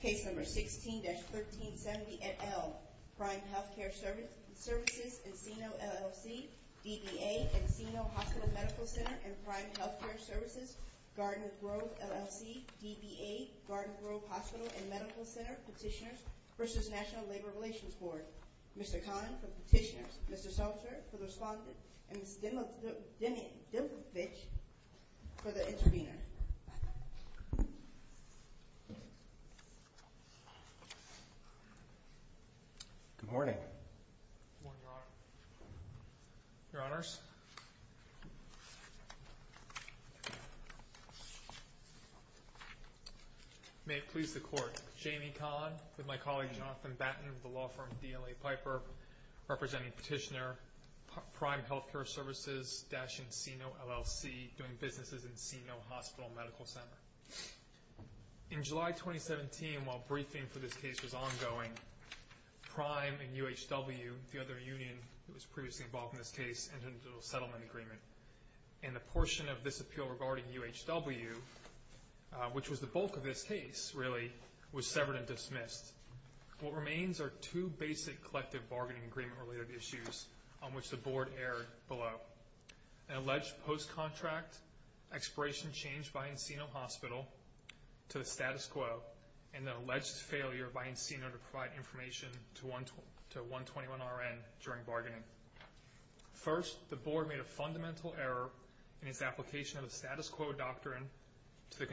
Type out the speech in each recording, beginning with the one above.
Case No. 16-1370 et al. Prime Healthcare Services, Encino, LLC DBA, Encino Hospital Medical Center and Prime Healthcare Services Garden Grove, LLC, DBA, Garden Grove Hospital and Medical Center, Petitioners v. National Labor Relations Board Mr. Kahn for Petitioners, Mr. Seltzer for the Respondent, and Ms. Demidovich for the Intervenor Good morning Good morning, Your Honor Your Honors May it please the Court Jamie Kahn, with my colleague Jonathan Batten of the law firm DLA Piper representing Petitioner, Prime Healthcare Services dash Encino, LLC, doing businesses in Encino Hospital Medical Center In July 2017, while briefing for this case was ongoing, Prime and UHW, the other union that was previously involved in this case, entered into a settlement agreement and the portion of this appeal regarding UHW, which was the bulk of this case, really, was severed and dismissed. What remains are two basic collective bargaining agreement related issues on which the Board erred below. An alleged post-contract expiration change by Encino Hospital to the status quo and an alleged failure by Encino to provide information to 121RN during bargaining. First, the Board made a fundamental error in its application of the status quo doctrine to the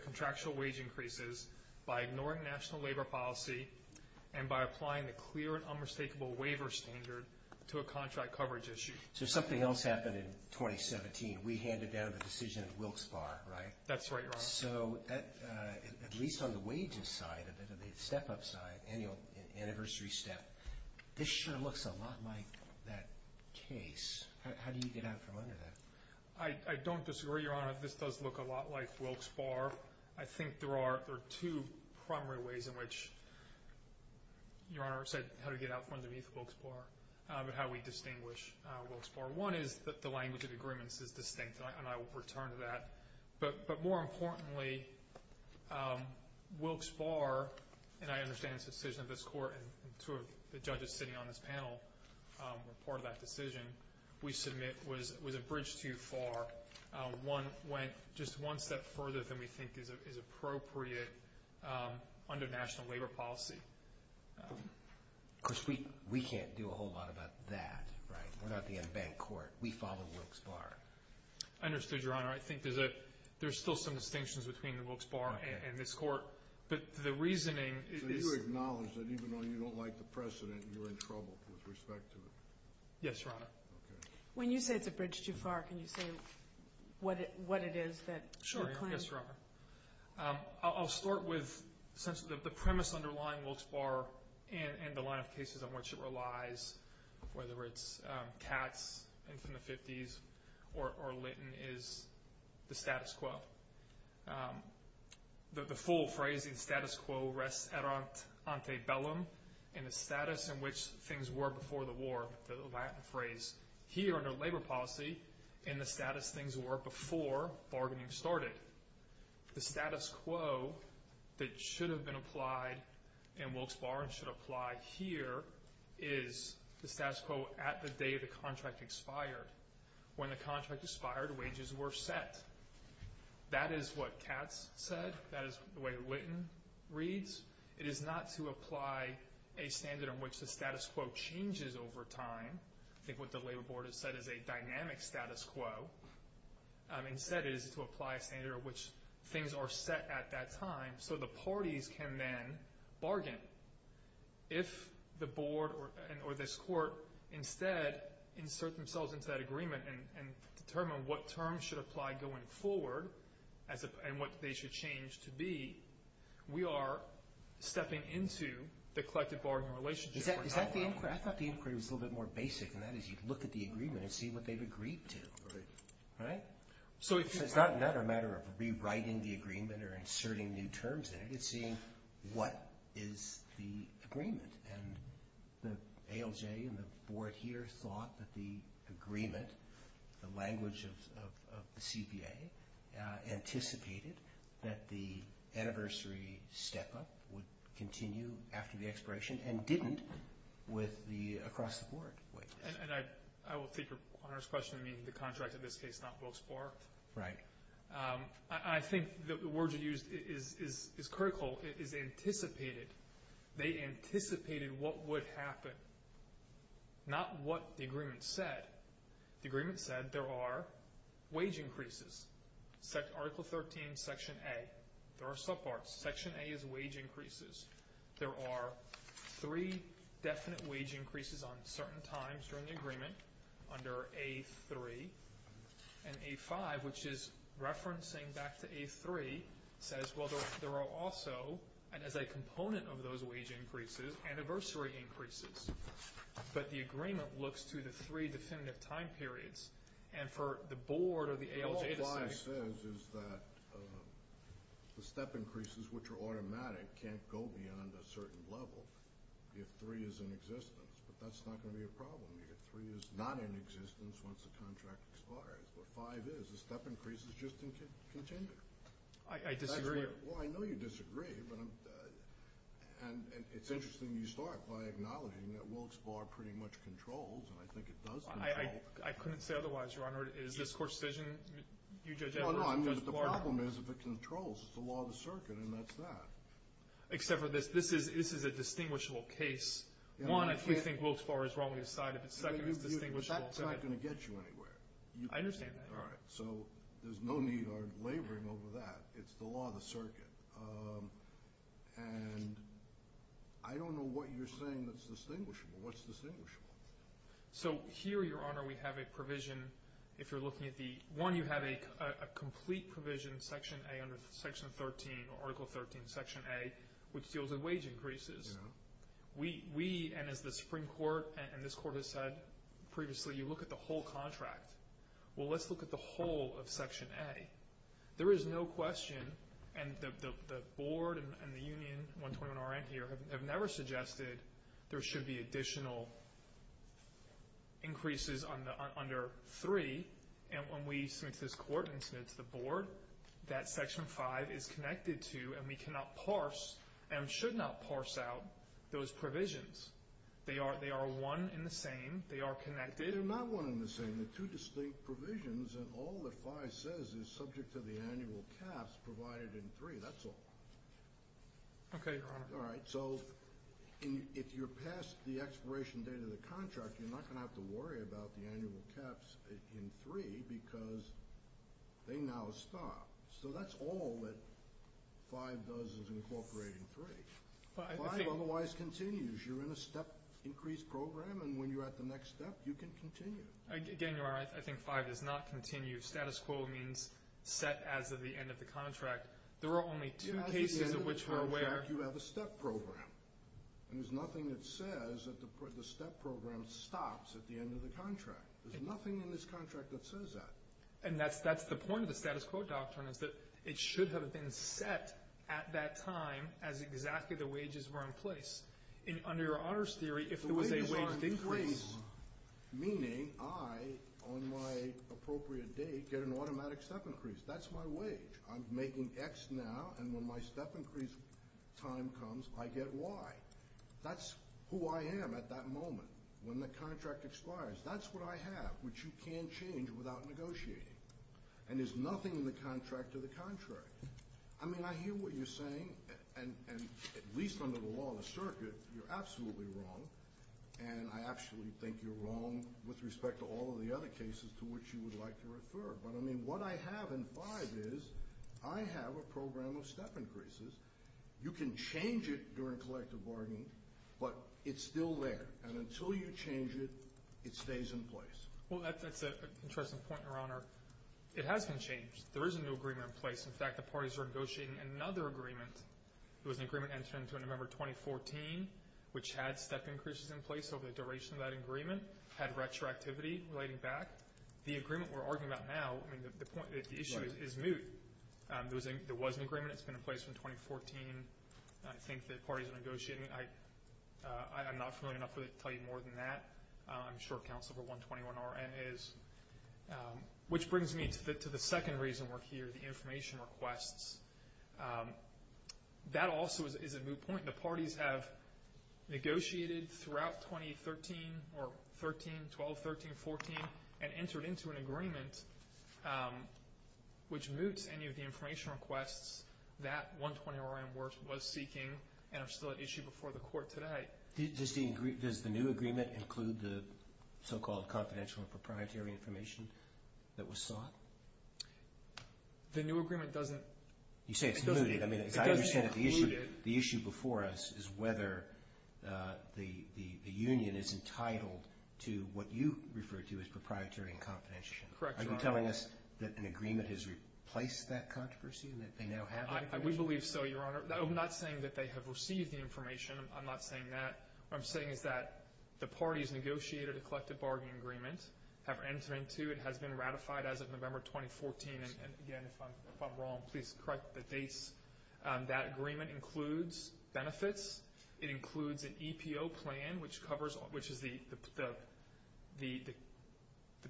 contractual wage increases by ignoring national labor policy and by applying the clear and unmistakable waiver standard to a contract coverage issue. So something else happened in 2017. We handed down the decision at Wilkes Bar, right? That's right, Your Honor. So, at least on the wages side, the step-up side, annual anniversary step this sure looks a lot like that case. How do you get out from under that? I don't disagree, Your Honor. This does look a lot like Wilkes Bar. I think there are two primary ways in which Your Honor said how to get out from under Wilkes Bar and how we distinguish Wilkes Bar. One is that the language of agreements is distinct, and I will return to that. But more importantly, Wilkes Bar, and I understand it's a decision of this Court, and two of the judges sitting on this panel were part of that decision, we submit was a bridge too far. One went just one step further than we think is appropriate under national labor policy. Of course, we can't do a whole lot about that, right? We're not the unbanked court. We follow Wilkes Bar. I understood, Your Honor. I think there's still some distinctions between Wilkes Bar and this Court, but the reasoning... So you acknowledge that even though you don't like the precedent, you're in trouble with respect to it? Yes, Your Honor. When you say it's a bridge too far, can you say what it is that... Sure. Yes, Your Honor. I'll start with the premise underlying Wilkes Bar and the line of cases on which it relies, whether it's Katz in the 50s or Litton is the status quo. The full phrase in status quo rests ante bellum, in the status in which things were before the war, the Latin phrase. Here under labor policy, in the status things were before bargaining started. The status quo that should have been applied in Wilkes Bar and should apply here is the status quo at the day the contract expired. When the contract expired, wages were set. That is what Katz said. That is the way Litton reads. It is not to apply a standard in which the status quo changes over time. I think what the labor board has said is a dynamic status quo. Instead, it is to apply a standard in which things are set at that time so the parties can then bargain. If the board or this court instead insert themselves into that agreement and determine what terms should apply going forward and what they should change to be, we are stepping into the collective bargaining relationship. I thought the inquiry was a little bit more basic and that is you look at the agreement and see what they've agreed to. It is not a matter of rewriting the agreement or inserting new terms in it. It is seeing what is the agreement. The ALJ and the board here thought that the agreement, the language of the CPA anticipated that the anniversary step up would continue after the expiration and didn't with the across the board. I will take your question on the contract in this case not Wilkes-Barre. I think the word you used is critical. It is anticipated. They anticipated what would happen. Not what the agreement said. The agreement said there are wage increases. Article 13, Section A. There are subparts. Section A is wage increases. There are three definite wage increases on certain times during the agreement under A3 and A5 which is referencing back to A3 says there are also as a component of those wage increases anniversary increases but the agreement looks to the three definitive time periods and for the board or the ALJ to say... The step increases which are automatic can't go beyond a certain level if three is in existence but that's not going to be a problem if three is not in existence once the contract expires but five is the step increases just continue. I disagree. I know you disagree and it's interesting you start by acknowledging that Wilkes-Barre pretty much controls and I think it does control. I couldn't say otherwise Your Honor. Is this court's decision? The problem is if it controls. It's the law of the circuit and that's that. Except for this. This is a distinguishable case. One if we think Wilkes-Barre is wrong we decide if it's second it's distinguishable. That's not going to get you anywhere. I understand that Your Honor. There's no need or laboring over that. It's the law of the circuit. I don't know what you're saying that's distinguishable. What's distinguishable? Here Your Honor we have a provision if you're looking at the... One you have a complete provision in section A under section 13 or article 13 section A which deals with wage increases. We and as the Supreme Court and this court has said previously you look at the whole contract. Well let's look at the whole of section A. There is no question and the board and the union 121RN here have never suggested there should be additional increases under three and when we submit this court and submit to the board that section five is connected to and we cannot parse and should not parse out those provisions. They are one and the same. They are connected. They're not one and the same. They're two distinct provisions and all that five says is subject to the annual caps provided in three. That's all. Okay Your Honor. Alright so if you're past the expiration date of the contract you're not going to have to worry about the annual caps in three because they now stop. So that's all that five does is incorporate in three. Five otherwise continues. You're in a step increase program and when you're at the next step you can continue. Again Your Honor I think five does not continue. Status quo means set as of the end of the contract. There are only two cases of which we're aware. At the end of the contract you have a step program and there's nothing that says that the step program stops at the end of the contract. There's nothing in this contract that says that. And that's the point of the status quo doctrine is that it should have been set at that time as exactly the wages were in place. Under Your Honor's theory if there was a wage increase. Meaning I on my appropriate date get an automatic step increase. That's my wage. I'm making x now and when my step increase time comes I get y. That's who I am at that moment when the contract expires. That's what I have which you can't change without negotiating. And there's nothing in the contract to the contrary. I mean I hear what you're saying and at least under the law of the circuit you're absolutely wrong and I actually think you're wrong with respect to all of the other cases to which you would like to refer. But I mean what I have in five is I have a program of step increases. You can change it during collective bargaining but it's still there. And until you change it, it stays in place. Well that's an interesting point Your Honor. It has been changed. There is a new agreement in place. In fact the parties are negotiating another agreement it was an agreement entered into in November 2014 which had step increases in place over the duration of that agreement. Had retroactivity relating back. The agreement we're arguing about now, I mean the issue is moot. There was an agreement that's been in place from 2014 I think the parties are negotiating. I'm not familiar enough to tell you more than that. I'm sure counsel for 121RN is which brings me to the second reason we're here, the information requests. That also is a moot point. The parties have negotiated throughout 2013 or 13, 12, 13, 14 and entered into an agreement which moots any of the information requests that 120RN was seeking and are still at issue before the court today. Does the new agreement include the so called confidential and proprietary information that was sought? The new agreement doesn't. You say it's mooted. The issue before us is whether the union is entitled to what you refer to as proprietary and confidential. Are you telling us that an agreement has been ratified? I would believe so, Your Honor. I'm not saying that they have received the information. I'm not saying that. What I'm saying is that the parties negotiated a collective bargaining agreement, have entered into. It has been ratified as of November 2014 and again, if I'm wrong, please correct the dates. That agreement includes benefits. It includes an EPO plan which is the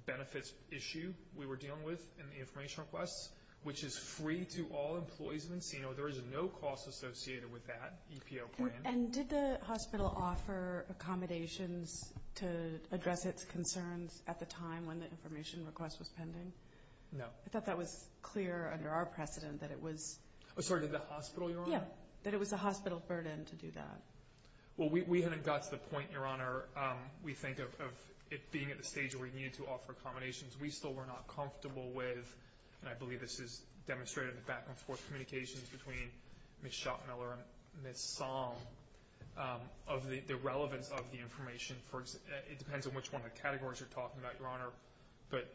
benefits issue we were dealing with in the information requests which is free to all employees of Encino. There is no cost associated with that EPO plan. And did the hospital offer accommodations to address its concerns at the time when the information request was pending? No. I thought that was clear under our precedent that it was... Oh sorry, did the hospital, Your Honor? Yeah, that it was the hospital burden to do that. Well, we hadn't got to the point, Your Honor, we think of it being at the stage where it needed to offer accommodations. We still were not comfortable with, and I believe this is demonstrated in the back and forth communications between Ms. Schottmiller and Ms. Song, of the relevance of the information. It depends on which one of the categories you're talking about, Your Honor, but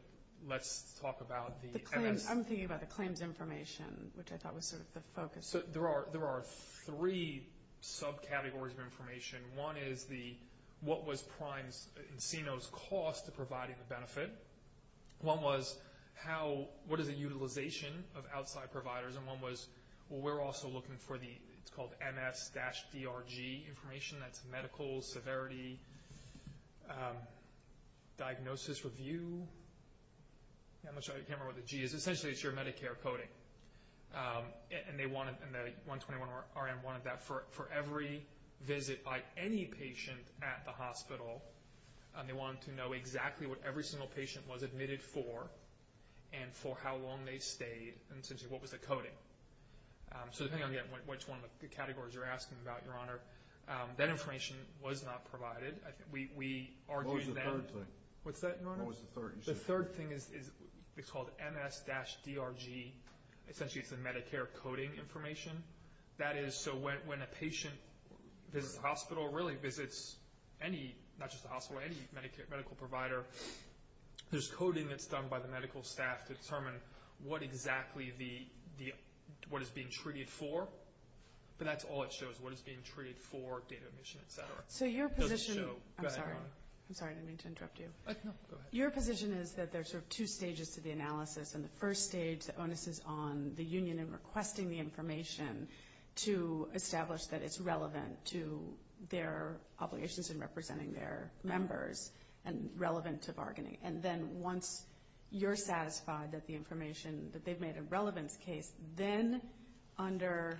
let's talk about the... I'm thinking about the claims information, which I thought was sort of the focus. There are three subcategories of information. One is what was Encino's cost of providing the benefit. One was what is the utilization of outside providers. And one was, well, we're also looking for the MS-DRG information, that's medical severity diagnosis review. I'm going to show you the camera where the G is. Essentially, it's your Medicare coding. And the 121RM wanted that for every visit by any patient at the hospital. They wanted to know exactly what every single patient was admitted for and for how long they stayed, and essentially what was the coding. So depending on which one of the categories you're asking about, Your Honor, that information was not provided. We argued that... What was the third thing? The third thing is MS-DRG, essentially it's the Medicare coding information. That is, so when a patient visits the hospital, or really visits any, not just the hospital, any medical provider, there's coding that's done by the medical staff to determine what exactly what is being treated for. But that's all it shows, what is being treated for, data omission, et cetera. It doesn't show... Go ahead, Your Honor. I'm sorry. I'm sorry, I didn't mean to interrupt you. Your position is that there's sort of two stages to the analysis, and the first stage, the onus is on the union in requesting the information to establish that it's relevant to their obligations in representing their members, and relevant to bargaining. And then once you're satisfied that the information, that they've made a relevance case, then under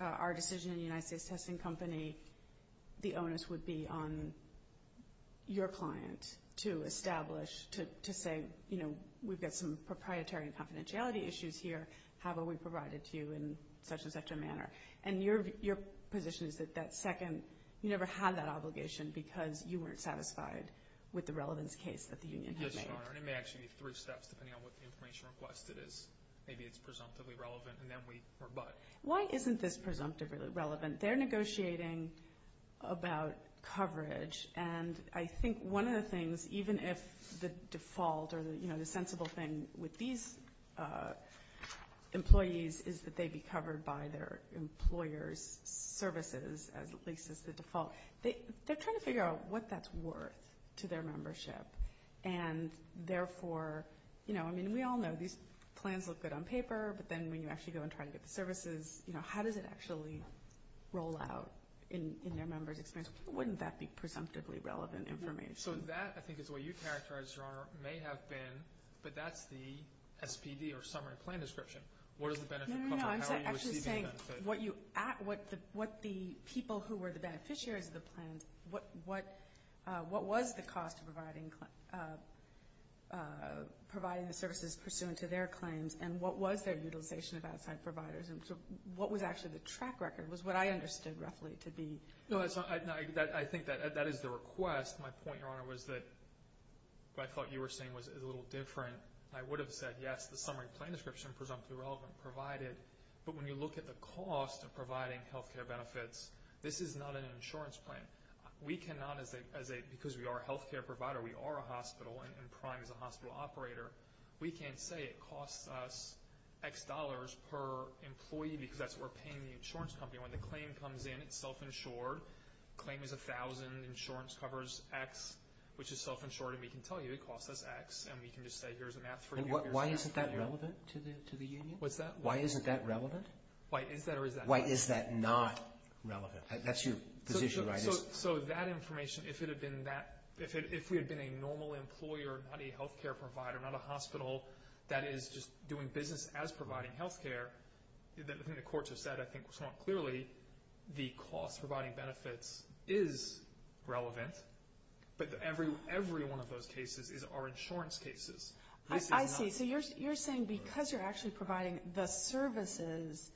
our decision in the United States Testing Company, the onus would be on your client to establish, to say, you know, we've got some proprietary and confidentiality issues here, how about we provide it to you in such and such a manner? And your position is that second, you never had that obligation because you weren't satisfied with the relevance case that the union had made. Yes, Your Honor, and it may actually be three steps, depending on what the information requested is. Maybe it's presumptively relevant, and then we rebut. Why isn't this presumptively relevant? They're negotiating about coverage, and I think one of the things, even if the default, or the sensible thing with these employees is that they be covered by their employer's services, at least as the default, they're trying to figure out what that's worth to their membership, and therefore, you know, I mean we all know these plans look good on paper, but then when you actually go and try to get the services, you know, how does it actually roll out in their members' experience? Wouldn't that be presumptively relevant information? So that, I think, is what you characterized, Your Honor, may have been, but that's the SPD or summary plan description. What does the benefit cover? How are you receiving the benefit? No, no, no, I'm actually saying what the people who were the beneficiaries of the plans, what was the cost of providing the services pursuant to their claims, and what was their utilization of outside providers, and what was actually the track record, was what I understood roughly to be. No, I think that is the request. My point, Your Honor, was that what I thought you were saying was a little different. I would have said, yes, the summary plan description, presumptively relevant, provided, but when you look at the cost of providing health care benefits, this is not an insurance plan. We cannot, because we are a health care provider, we are a hospital, and PRIME is a hospital operator, we can't say it costs us X dollars per employee because that's what we're paying the insurance company. When the claim comes in, it's self-insured. Claim is $1,000, insurance covers X, which is self-insured, and we can tell you it costs us X, and we can just say, here's a math for you. Why isn't that relevant? Why is that not relevant? If we had been a normal employer, not a health care provider, not a hospital that is just doing business as providing health care, the courts have said, I think, clearly, the cost of providing benefits is relevant, but every one of those cases is our insurance cases. I see. So you're saying because you're actually providing the services,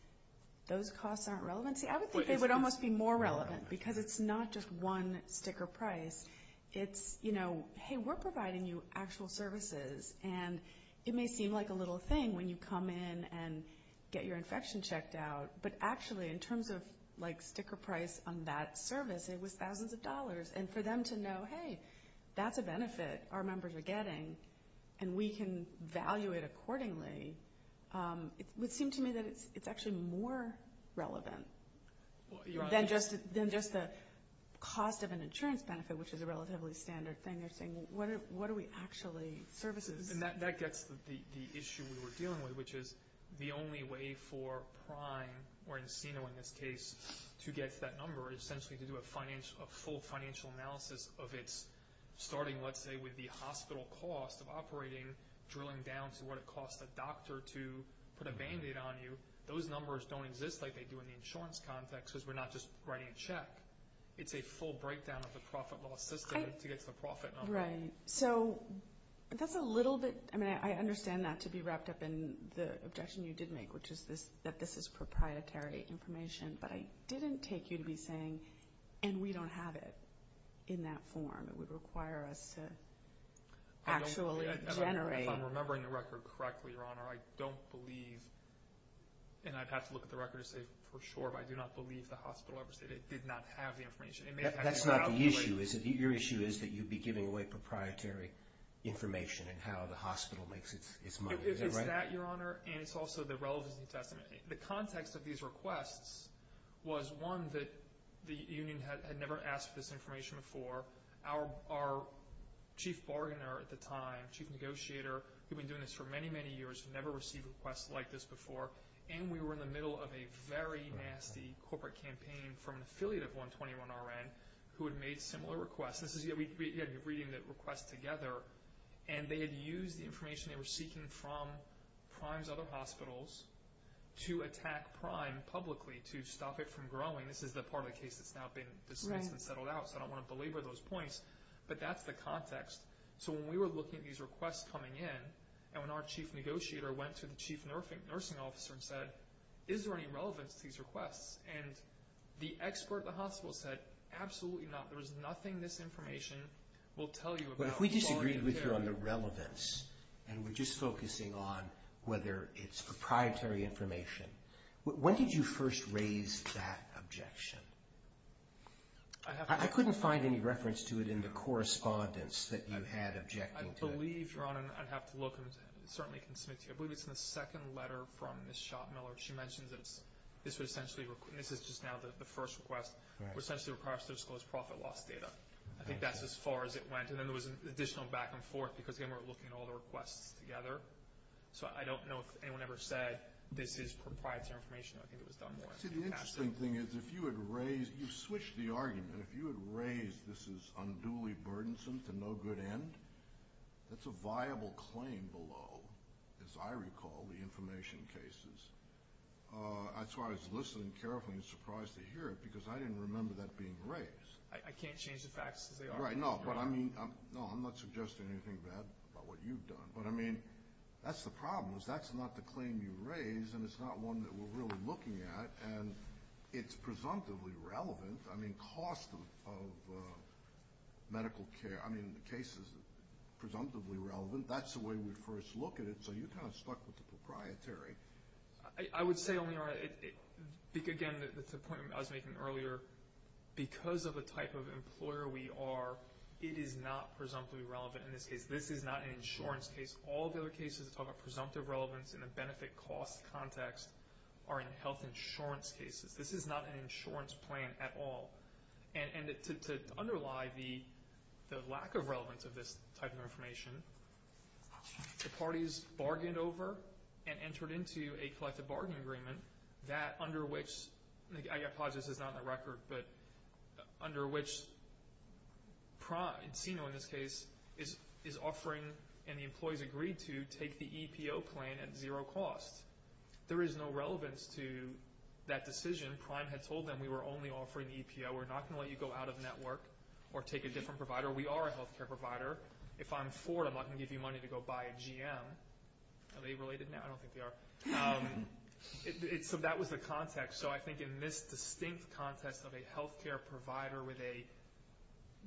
those costs aren't relevant? See, I would think they would almost be more relevant, because it's not just one sticker price. It's, hey, we're providing you actual services, and it may seem like a little thing when you come in and get your infection checked out, but actually, in terms of sticker price on that claim, for them to know, hey, that's a benefit our members are getting, and we can value it accordingly, it would seem to me that it's actually more relevant than just the cost of an insurance benefit, which is a relatively standard thing. You're saying, what are we actually, services? That gets the issue we were dealing with, which is the only way for Prime, or Encino in this case, to get that number, essentially to do a full financial analysis of its, starting, let's say, with the hospital cost of operating, drilling down to what it costs a doctor to put a band-aid on you. Those numbers don't exist like they do in the insurance context, because we're not just writing a check. It's a full breakdown of the profit-loss system to get to the profit number. Right. So, that's a little bit, I mean, I understand that to be wrapped up in the objection you did make, which is that this is proprietary information, but I didn't take you to be saying, and we don't have it in that form. It would require us to actually generate... If I'm remembering the record correctly, Your Honor, I don't believe, and I'd have to look at the record to say for sure, but I do not believe the hospital ever said it did not have the information. That's not the issue, is it? Your issue is that you'd be giving away proprietary information and how the hospital makes its money. Is that right? It's that, Your Honor, and it's also the relevance of the testament. The context of these requests was, one, that the union had never asked for this information before. Our chief bargainer at the time, chief negotiator, who'd been doing this for many, many years, had never received requests like this before, and we were in the middle of a very nasty corporate campaign from an affiliate of 121RN who had made similar requests. This is, we're reading the requests together, and they had used the information they were seeking from Prime's other hospitals to attack Prime publicly to stop it from growing. This is the part of the case that's now been settled out, so I don't want to belabor those points, but that's the context. So when we were looking at these requests coming in, and when our chief negotiator went to the chief nursing officer and said, is there any relevance to these requests? The expert at the hospital said, absolutely not. There is nothing this information will tell you about bargain care. But if we disagreed with you on the relevance and we're just focusing on whether it's proprietary information, when did you first raise that objection? I couldn't find any reference to it in the correspondence that you had objecting to it. I believe, Your Honor, I'd have to look and certainly can submit to you. I believe it's in the second letter from Ms. Schottmiller. She mentions that this would essentially, this is just now the first request, would essentially require us to disclose profit loss data. I think that's as far as it went, and then there was additional back and forth, because again, we're looking at all the requests together. So I don't know if anyone ever said this is proprietary information. I think it was done more in the past. See, the interesting thing is, if you had raised, you switched the argument. If you had raised this is unduly burdensome to no good end, that's a viable claim below, as I recall, the information cases. That's why I was listening carefully and surprised to hear it, because I didn't remember that being raised. I can't change the facts as they are. No, I'm not suggesting anything bad about what you've done, but I mean, that's the problem, is that's not the claim you raised, and it's not one that we're really looking at, and it's presumptively relevant. I mean, cost of medical care, I mean, the case is presumptively relevant. That's the way we first look at it, so you kind of stuck with the proprietary. I would say, Your Honor, again, the point I was making earlier, because of the type of employer we are, it is not presumptively relevant in this case. This is not an insurance case. All the other cases that talk about presumptive relevance in a benefit-cost context are in health insurance cases. This is not an insurance plan at all, and to underlie the lack of relevance of this type of information, the parties bargained over and entered into a collective bargaining agreement that, under which I apologize, this is not in the record, but under which Encino, in this case, is offering and the employees agreed to take the EPO claim at zero cost. There is no relevance to that decision. Prime had told them we were only offering EPO. We're not going to let you go out of network or take a different provider. We are a health care provider. If I'm Ford, I'm not going to give you money to go buy a GM. Are they related now? I don't think they are. So that was the context. So I think in this distinct context of a health care provider with a,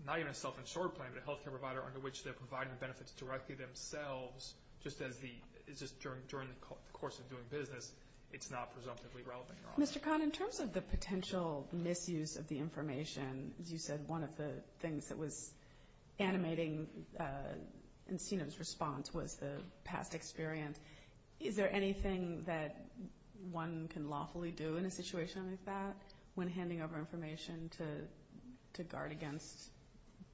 not even a self-insured plan, but a health care provider under which they're providing benefits directly themselves just during the course of doing business, it's not presumptively relevant. Mr. Khan, in terms of the potential misuse of the information, as you said, one of the things that was animating Encino's response was the past experience. Is there anything that one can lawfully do in a situation like that when handing over information to guard against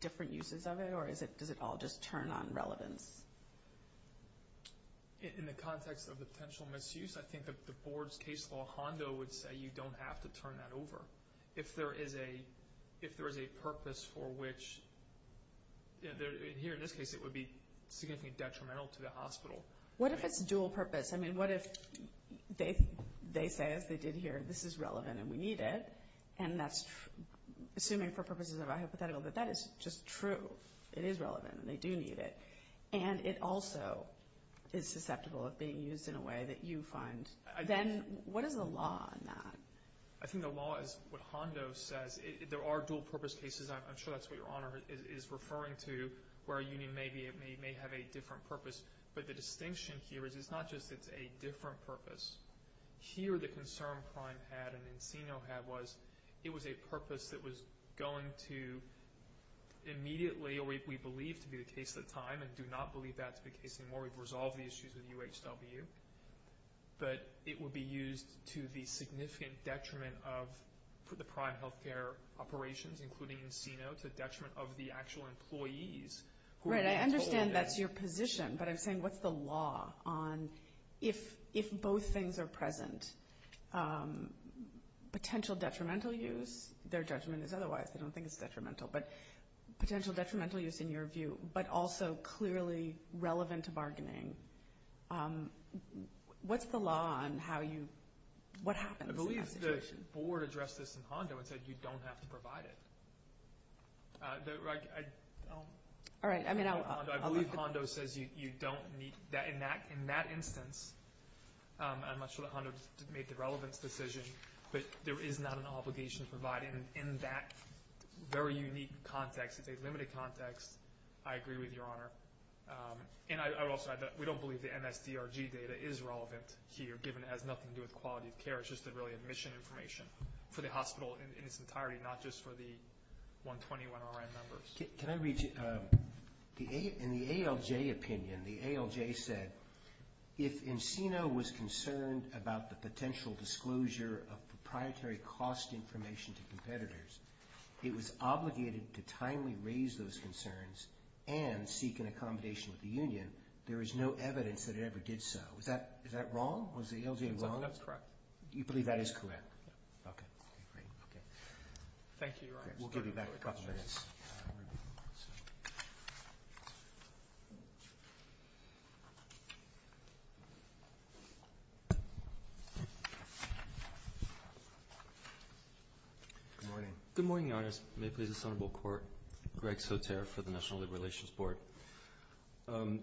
different uses of it, or does it all just turn on relevance? In the context of potential misuse, I think that the board's case law hondo would say you don't have to turn that over. If there is a purpose for which, here in this case, it would be significantly detrimental to the hospital. What if it's dual purpose? I mean, what if they say, as they did here, this is relevant and we need it, and that's assuming for purposes of hypothetical, but that is just true. It is relevant and they do need it. And it also is susceptible of being used in a way that you find. Then what is the law on that? I think the law is what hondo says. There are dual purpose cases. I'm sure that's what your Honor is referring to where a union may have a different purpose, but the distinction here is it's not just it's a different purpose. Here the concern Prime had and Encino had was it was a purpose that was going to immediately, or we believe to be the case at the time, and do not believe that to be the case anymore. We've resolved the issues with UHW, but it would be used to the significant detriment of the Prime Healthcare operations, including Encino, to the detriment of the actual employees. Right, I understand that's your position, but I'm saying what's the law on if both things are present, potential detrimental use, their judgment is otherwise, they don't think it's detrimental, but potential detrimental use in your view, but also clearly relevant to bargaining. What's the law on how you, what happens in that situation? I believe the board addressed this in hondo and said you don't have to provide it. I believe hondo says you don't need, in that instance I'm not sure that hondo made the relevance decision, but there is not an obligation to provide it in that very unique context. It's a limited context. I agree with your Honor. We don't believe the NSDRG data is relevant here given it has nothing to do with quality of care. It's just really admission information for the hospital in its entirety, not just for the 121RM members. Can I read you, in the ALJ opinion, the ALJ said if Encino was concerned about the potential disclosure of proprietary cost information to competitors, it was obligated to timely raise those concerns and seek an accommodation with the union. There is no evidence that it ever did so. Is that wrong? Was the ALJ wrong? I think that's correct. You believe that is correct? Okay. Thank you, Your Honor. We'll give you back a couple minutes. Good morning. Good morning, Your Honors. May it please the Senate Board of Courts. Greg Soter for the National Labor Relations Board.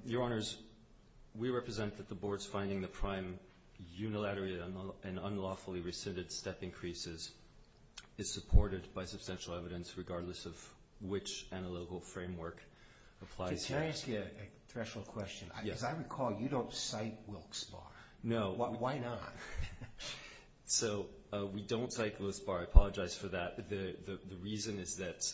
Your Honors, we represent that the board is finding the unlawfully rescinded step increases is supported by substantial evidence regardless of which analytical framework applies here. Can I ask you a threshold question? Yes. Because I recall you don't cite Wilkes-Barre. No. Why not? We don't cite Wilkes-Barre. I apologize for that. The reason is that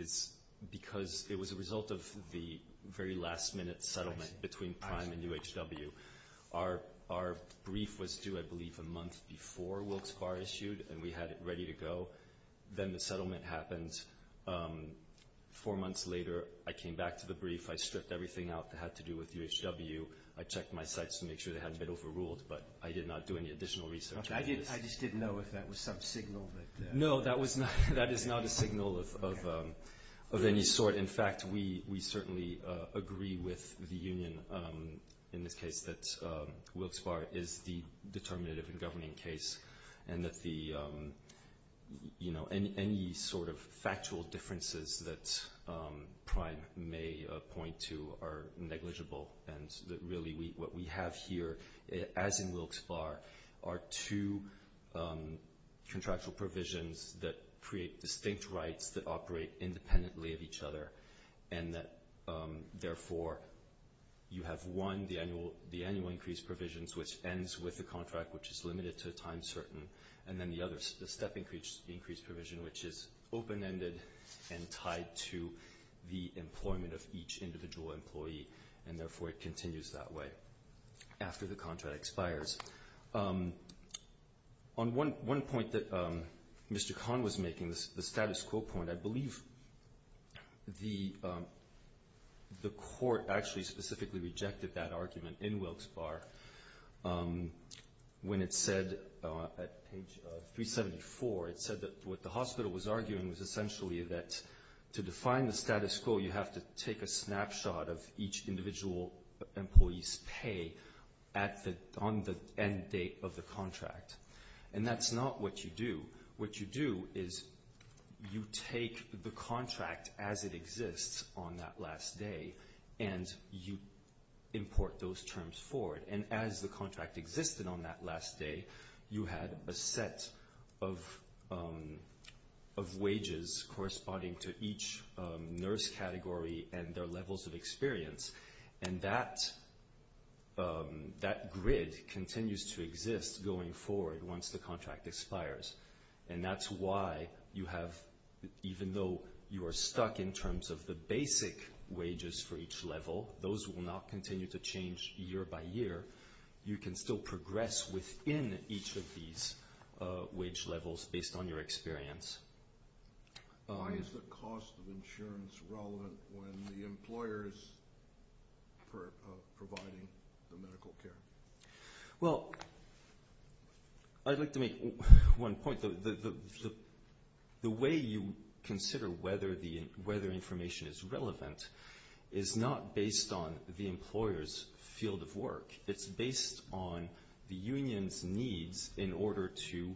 it's because it was a result of the very last minute settlement between Prime and UHW. Our brief was due, I believe, a month before Wilkes-Barre issued, and we had it ready to go. Then the settlement happened four months later. I came back to the brief. I stripped everything out that had to do with UHW. I checked my sites to make sure they hadn't been overruled, but I did not do any additional research. I just didn't know if that was some signal. No, that is not a signal of any sort. In fact, we certainly agree with the Union in this case that Wilkes-Barre is the determinative and governing case, and that any sort of factual differences that Prime may point to are negligible, and really what we have here, as in Wilkes-Barre, are two contractual provisions that create distinct rights that operate independently of each other, and that therefore you have one, the annual increase provisions, which ends with the contract, which is limited to a time certain, and then the other step increase provision, which is open-ended and tied to the employment of each individual employee, and therefore it continues that way after the contract expires. On one point that Mr. Kahn was making, the status quo point, I believe the court actually specifically rejected that argument in Wilkes-Barre when it said, at page 374, it said that what the hospital was arguing was essentially that to define the status quo, you have to take a snapshot of each individual employee's pay on the end date of the contract, and that's not what you do. What you do is you take the contract as it exists on that last day, and you import those terms forward, and as the contract existed on that last day, you had a set of wages corresponding to each nurse category and their levels of experience, and that grid continues to exist going forward once the contract expires, and that's why you have, even though you are stuck in terms of the basic wages for each level, those will not continue to change year by year. You can still progress within each of these wage levels based on your experience. Why is the cost of insurance relevant when the employer is providing the medical care? Well, I'd like to make one point. The way you consider whether information is relevant is not based on the employer's field of work. It's based on the union's needs in order to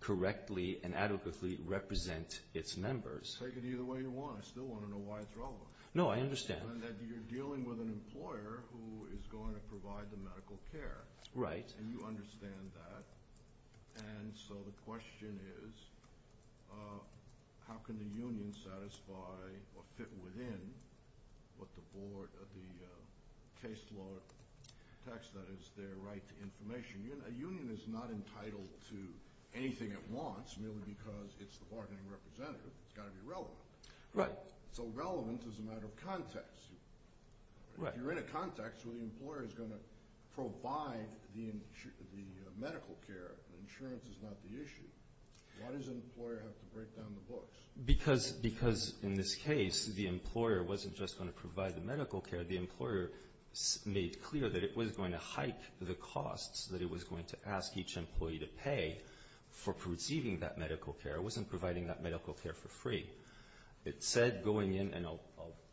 correctly and adequately represent its members. Take it either way you want. I still want to know why it's relevant. No, I understand. You're dealing with an employer who is going to provide the medical care, and you understand that, and so the question is how can the union satisfy or fit within what the case law text that is their right to information. A union is not entitled to anything it wants merely because it's the bargaining representative. It's got to be relevant. So relevance is a matter of context. If you're in a context where the employer is going to provide the medical care, insurance is not the issue. Why does an employer have to break down the books? Because in this case, the employer wasn't just going to provide the medical care. The employer made clear that it was going to hike the costs that it was going to ask each employee to pay for receiving that medical care. It wasn't providing that medical care for free. It said going in, and I'll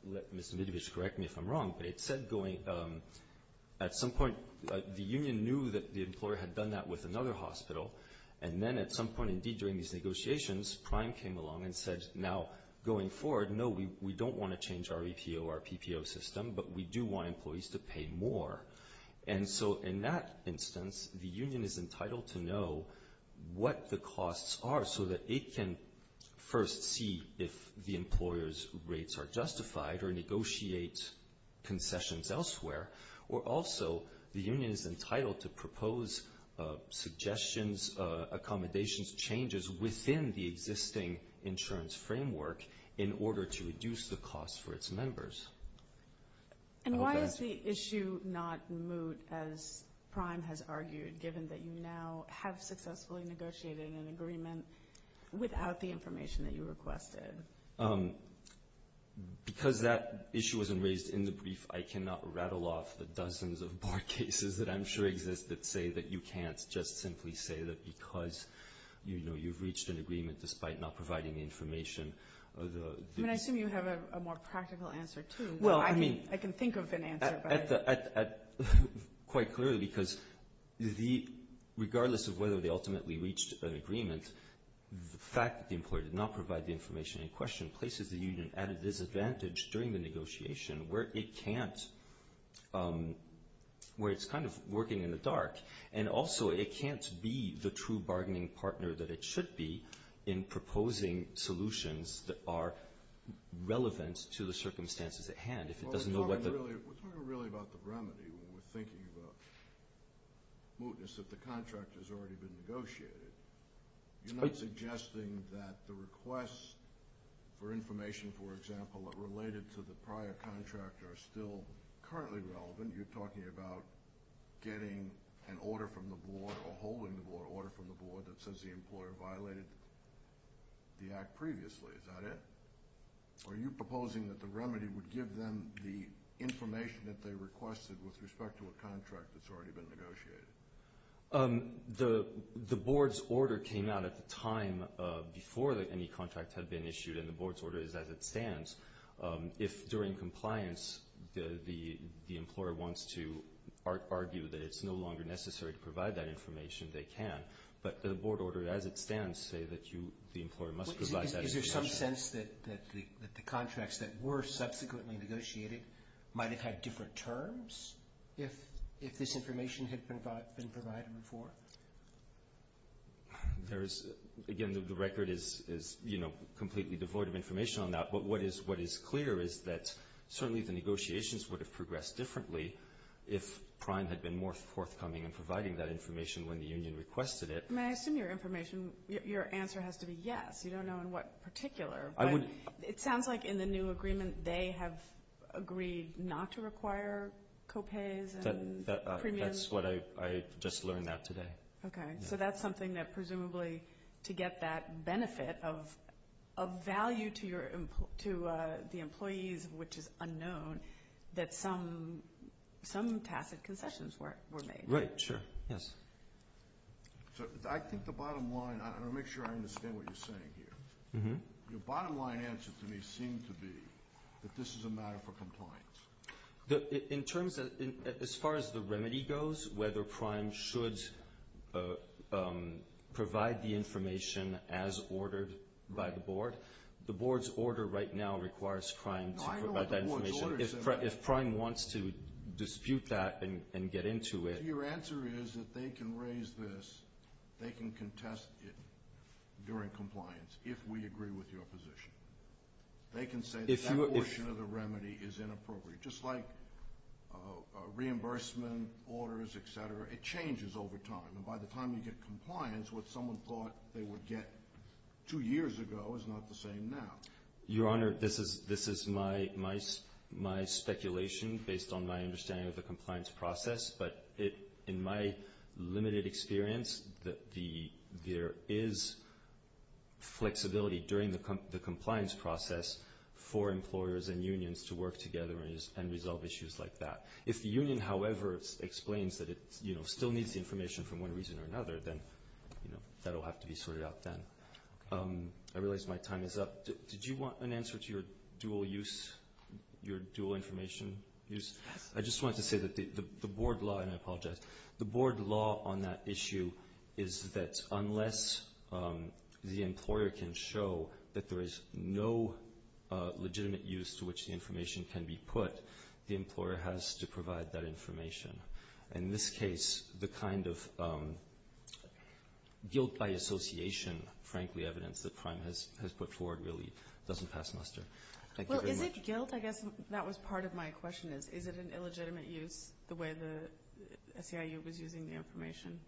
let Ms. Midovich correct me if I'm wrong, but it said going at some point, the union knew that the employer had done that with another hospital, and then at some point indeed during these negotiations Prime came along and said now going forward, no, we don't want to change our EPO, our PPO system, but we do want employees to pay more. And so in that instance, the union is entitled to know what the costs are so that it can first see if the employer's rates are justified or negotiate concessions elsewhere, or also the union is entitled to propose suggestions, accommodations, changes within the existing insurance framework in order to reduce the cost for its members. And why is the issue not moot as Prime has argued given that you now have successfully negotiated an agreement without the information that you requested? Because that issue wasn't raised in the brief, I cannot rattle off the dozens of bar cases that I'm sure exist that say that you can't just simply say that because you've reached an agreement despite not providing the information. I assume you have a more practical answer, too. I can think of an answer. Quite clearly, because regardless of whether they ultimately reached an agreement, the fact that the employer did not provide the information in question places the union at a disadvantage during the negotiation where it can't, where it's kind of working in the dark, and also it can't be the true bargaining partner that it should be in proposing solutions that are relevant to the circumstances at hand. We're talking really about the remedy when we're thinking about mootness that the contract has already been negotiated. You're not suggesting that the requests for information for example that related to the prior contract are still currently relevant. You're talking about getting an order from the board or holding the order from the board that says the employer violated the act previously. Is that it? Or are you proposing that the remedy would give them the information that they requested with respect to a contract that's already been negotiated? The board's order came out at the time before any contract had been issued, and the board's order is as it stands. If during compliance the employer wants to argue that it's no longer necessary to provide that information, they can. But the board order as it stands say that the employer must provide that information. Is there some sense that the contracts that were subsequently negotiated might have had different terms if this information had been provided before? Again, the record is completely devoid of information on that, but what is clear is that certainly the negotiations would have progressed differently if Prime had been more forthcoming in providing that information when the union requested it. Your answer has to be yes. You don't know in what particular. It sounds like in the new agreement they have agreed not to require co-pays and premiums. That's what I just learned out today. Presumably to get that benefit of value to the employees, which is unknown, that some tacit concessions were made. I understand what you're saying here. Your bottom line answer to me seemed to be that this is a matter for compliance. As far as the remedy goes, whether Prime should provide the information as ordered by the board, the board's order right now requires Prime to provide that information. If Prime wants to dispute that and get into it... Your answer is that they can raise this, they can contest it during compliance if we agree with your position. They can say that portion of the remedy is inappropriate. Just like reimbursement orders, etc., it changes over time. By the time you get compliance, what someone thought they would get two years ago is not the same now. Your Honor, this is my speculation based on my understanding of the compliance process, but in my limited experience, there is flexibility during the compliance process for employers and unions to work together and resolve issues like that. If the union, however, explains that it still needs the information for one reason or another, then that will have to be sorted out then. I realize my time is up. Did you want an answer to your dual information use? I just wanted to say that the board law on that issue is that unless the employer can show that there is no legitimate use to which the information can be put, the employer has to provide that information. In this case, the kind of guilt by association, frankly, evidence that Prime has put forward really doesn't pass muster. Thank you very much. Guilt? I guess that was part of my question. Is it an illegitimate use the way the SEIU was using the information?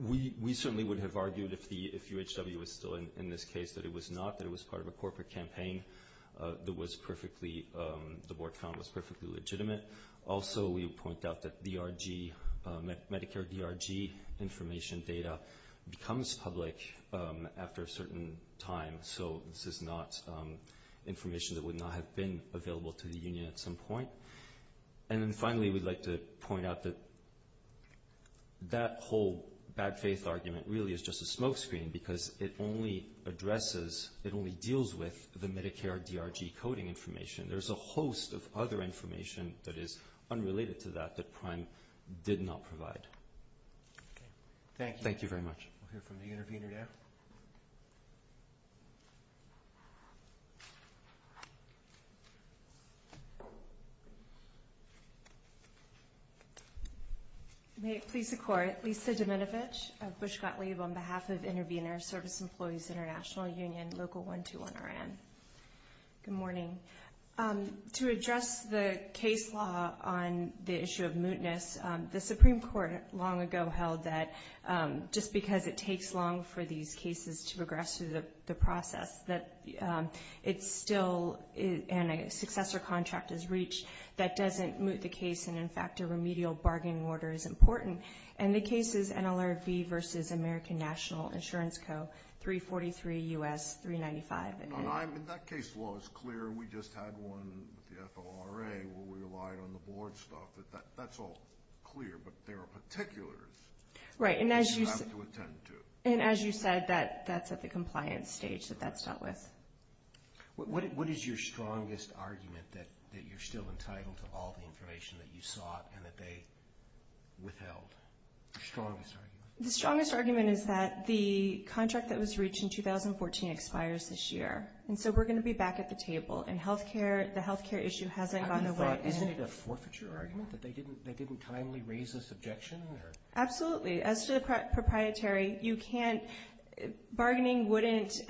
We certainly would have argued if UHW was still in this case that it was not, that it was part of a corporate campaign that the board found was perfectly legitimate. Also, we point out that Medicare DRG information data becomes public after a certain time, so this is not information that would not have been available to the union at some point. And then finally, we'd like to point out that that whole bad faith argument really is just a smokescreen because it only addresses it only deals with the Medicare DRG coding information. There's a host of other information that is unrelated to that that Prime did not provide. Thank you very much. We'll hear from the intervener now. May it please the Court, Lisa Domenovich of Bushcott-Leib on behalf of Intervenor Service Employees International Union, Local 121 RN. Good morning. To address the case law on the issue of mootness, the Supreme Court long ago held that just because it takes long for these cases to progress through the process, that it's still and a successor contract is reached that doesn't moot the case and in fact a remedial bargain order is important. And the case is NLRV versus American National Insurance Co., 343 U.S. 395. That case law is clear. We just had one with the FLRA where we relied on the board stuff. That's all clear, but there are particulars that you have to attend to. And as you said, that's at the compliance stage that that's dealt with. What is your strongest argument that you're still entitled to all the information that you sought and that they withheld? The strongest argument is that the contract that was reached in 2014 expires this year. And so we're going to be back at the table. And the health care issue hasn't gone away. Isn't it a forfeiture argument that they didn't timely raise this objection? Absolutely. As to the proprietary, you can't bargaining wouldn't,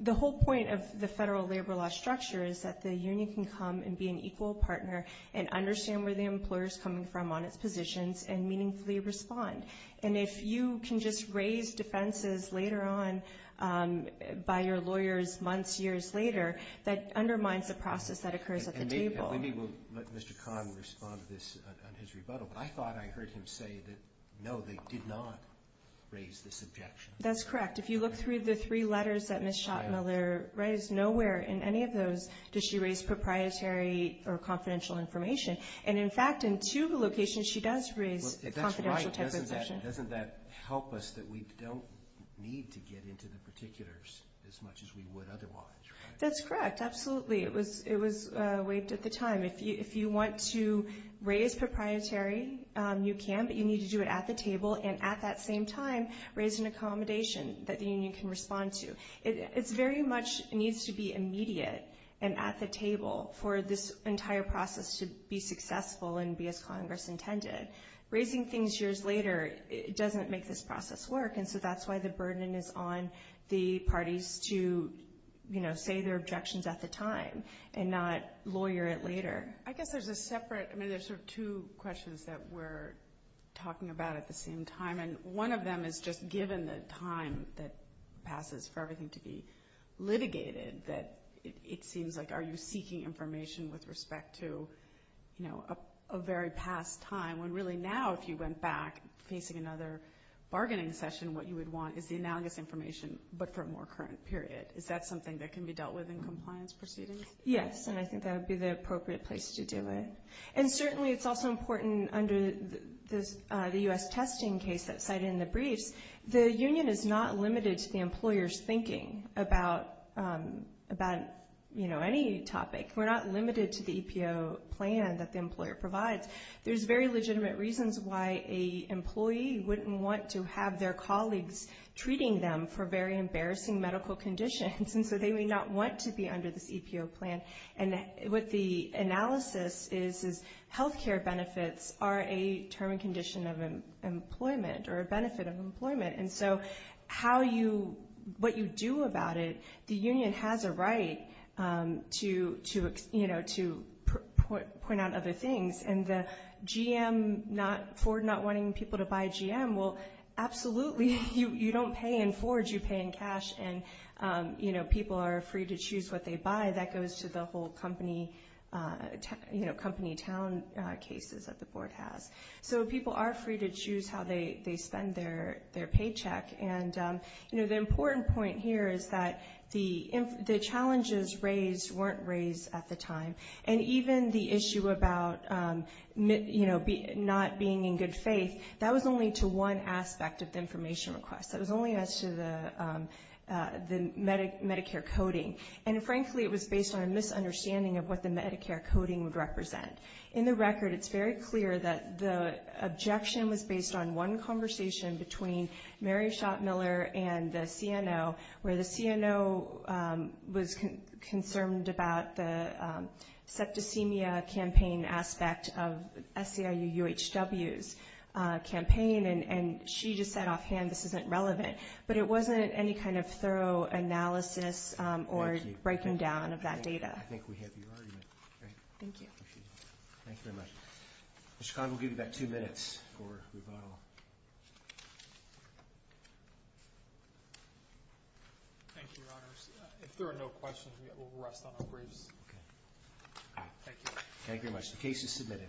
the whole point of the federal labor law structure is that the union can come and be an equal partner and understand where the employer is coming from on its positions and meaningfully respond. And if you can just raise defenses later on by your lawyers months, years later, that undermines the process that occurs at the table. And maybe we'll let Mr. Kahn respond to this on his rebuttal, but I thought I heard him say that no, they did not raise this objection. That's correct. If you look through the three letters that Ms. Schottmiller raised, nowhere in any of those does she raise proprietary or confidential information. And in fact, in two of the locations she does raise a confidential type of objection. Doesn't that help us that we don't need to get into the particulars as much as we would otherwise? That's correct. Absolutely. It was waived at the time. If you want to raise proprietary, you can, but you need to do it at the table and at that same time raise an accommodation that the union can respond to. It very much needs to be immediate and at the table for this entire process to be successful and be as Congress intended. Raising things years later doesn't make this process work, and so that's why the burden is on the lawyers to say their objections at the time and not lawyer it later. I guess there's a separate, I mean there's sort of two questions that we're talking about at the same time, and one of them is just given the time that passes for everything to be litigated, that it seems like are you seeking information with respect to a very past time, when really now if you went back facing another bargaining session, what you would want is the analogous information, but for what you dealt with in compliance proceedings? Yes, and I think that would be the appropriate place to do it. And certainly it's also important under the U.S. testing case that's cited in the briefs, the union is not limited to the employer's thinking about any topic. We're not limited to the EPO plan that the employer provides. There's very legitimate reasons why an employee wouldn't want to have their colleagues treating them for very embarrassing medical conditions, and so they may not want to be under this EPO plan. And what the analysis is, is health care benefits are a term and condition of employment, or a benefit of employment, and so how you, what you do about it, the union has a right to point out other things, and the GM, Ford not wanting people to buy GM, well absolutely. You don't pay in Ford, you pay in cash, and people are free to choose what they buy. That goes to the whole company town cases that the board has. So people are free to choose how they spend their paycheck, and the important point here is that the challenges raised weren't raised at the time, and even the issue about not being in good faith, that was only to one aspect of the information request. That was only as to the Medicare coding, and frankly it was based on a misunderstanding of what the Medicare coding would represent. In the record, it's very clear that the objection was based on one conversation between Mary Schottmiller and the CNO, where the CNO was concerned about the septicemia campaign aspect of SEIU UHW's campaign, and she just said offhand, this isn't relevant. But it wasn't any kind of thorough analysis or breaking down of that data. Thank you. Mr. Conville will give you about two minutes for rebuttal. Thank you, Your Honors. If there are no questions, we will rest on our briefs. Thank you. Thank you very much. The case is submitted.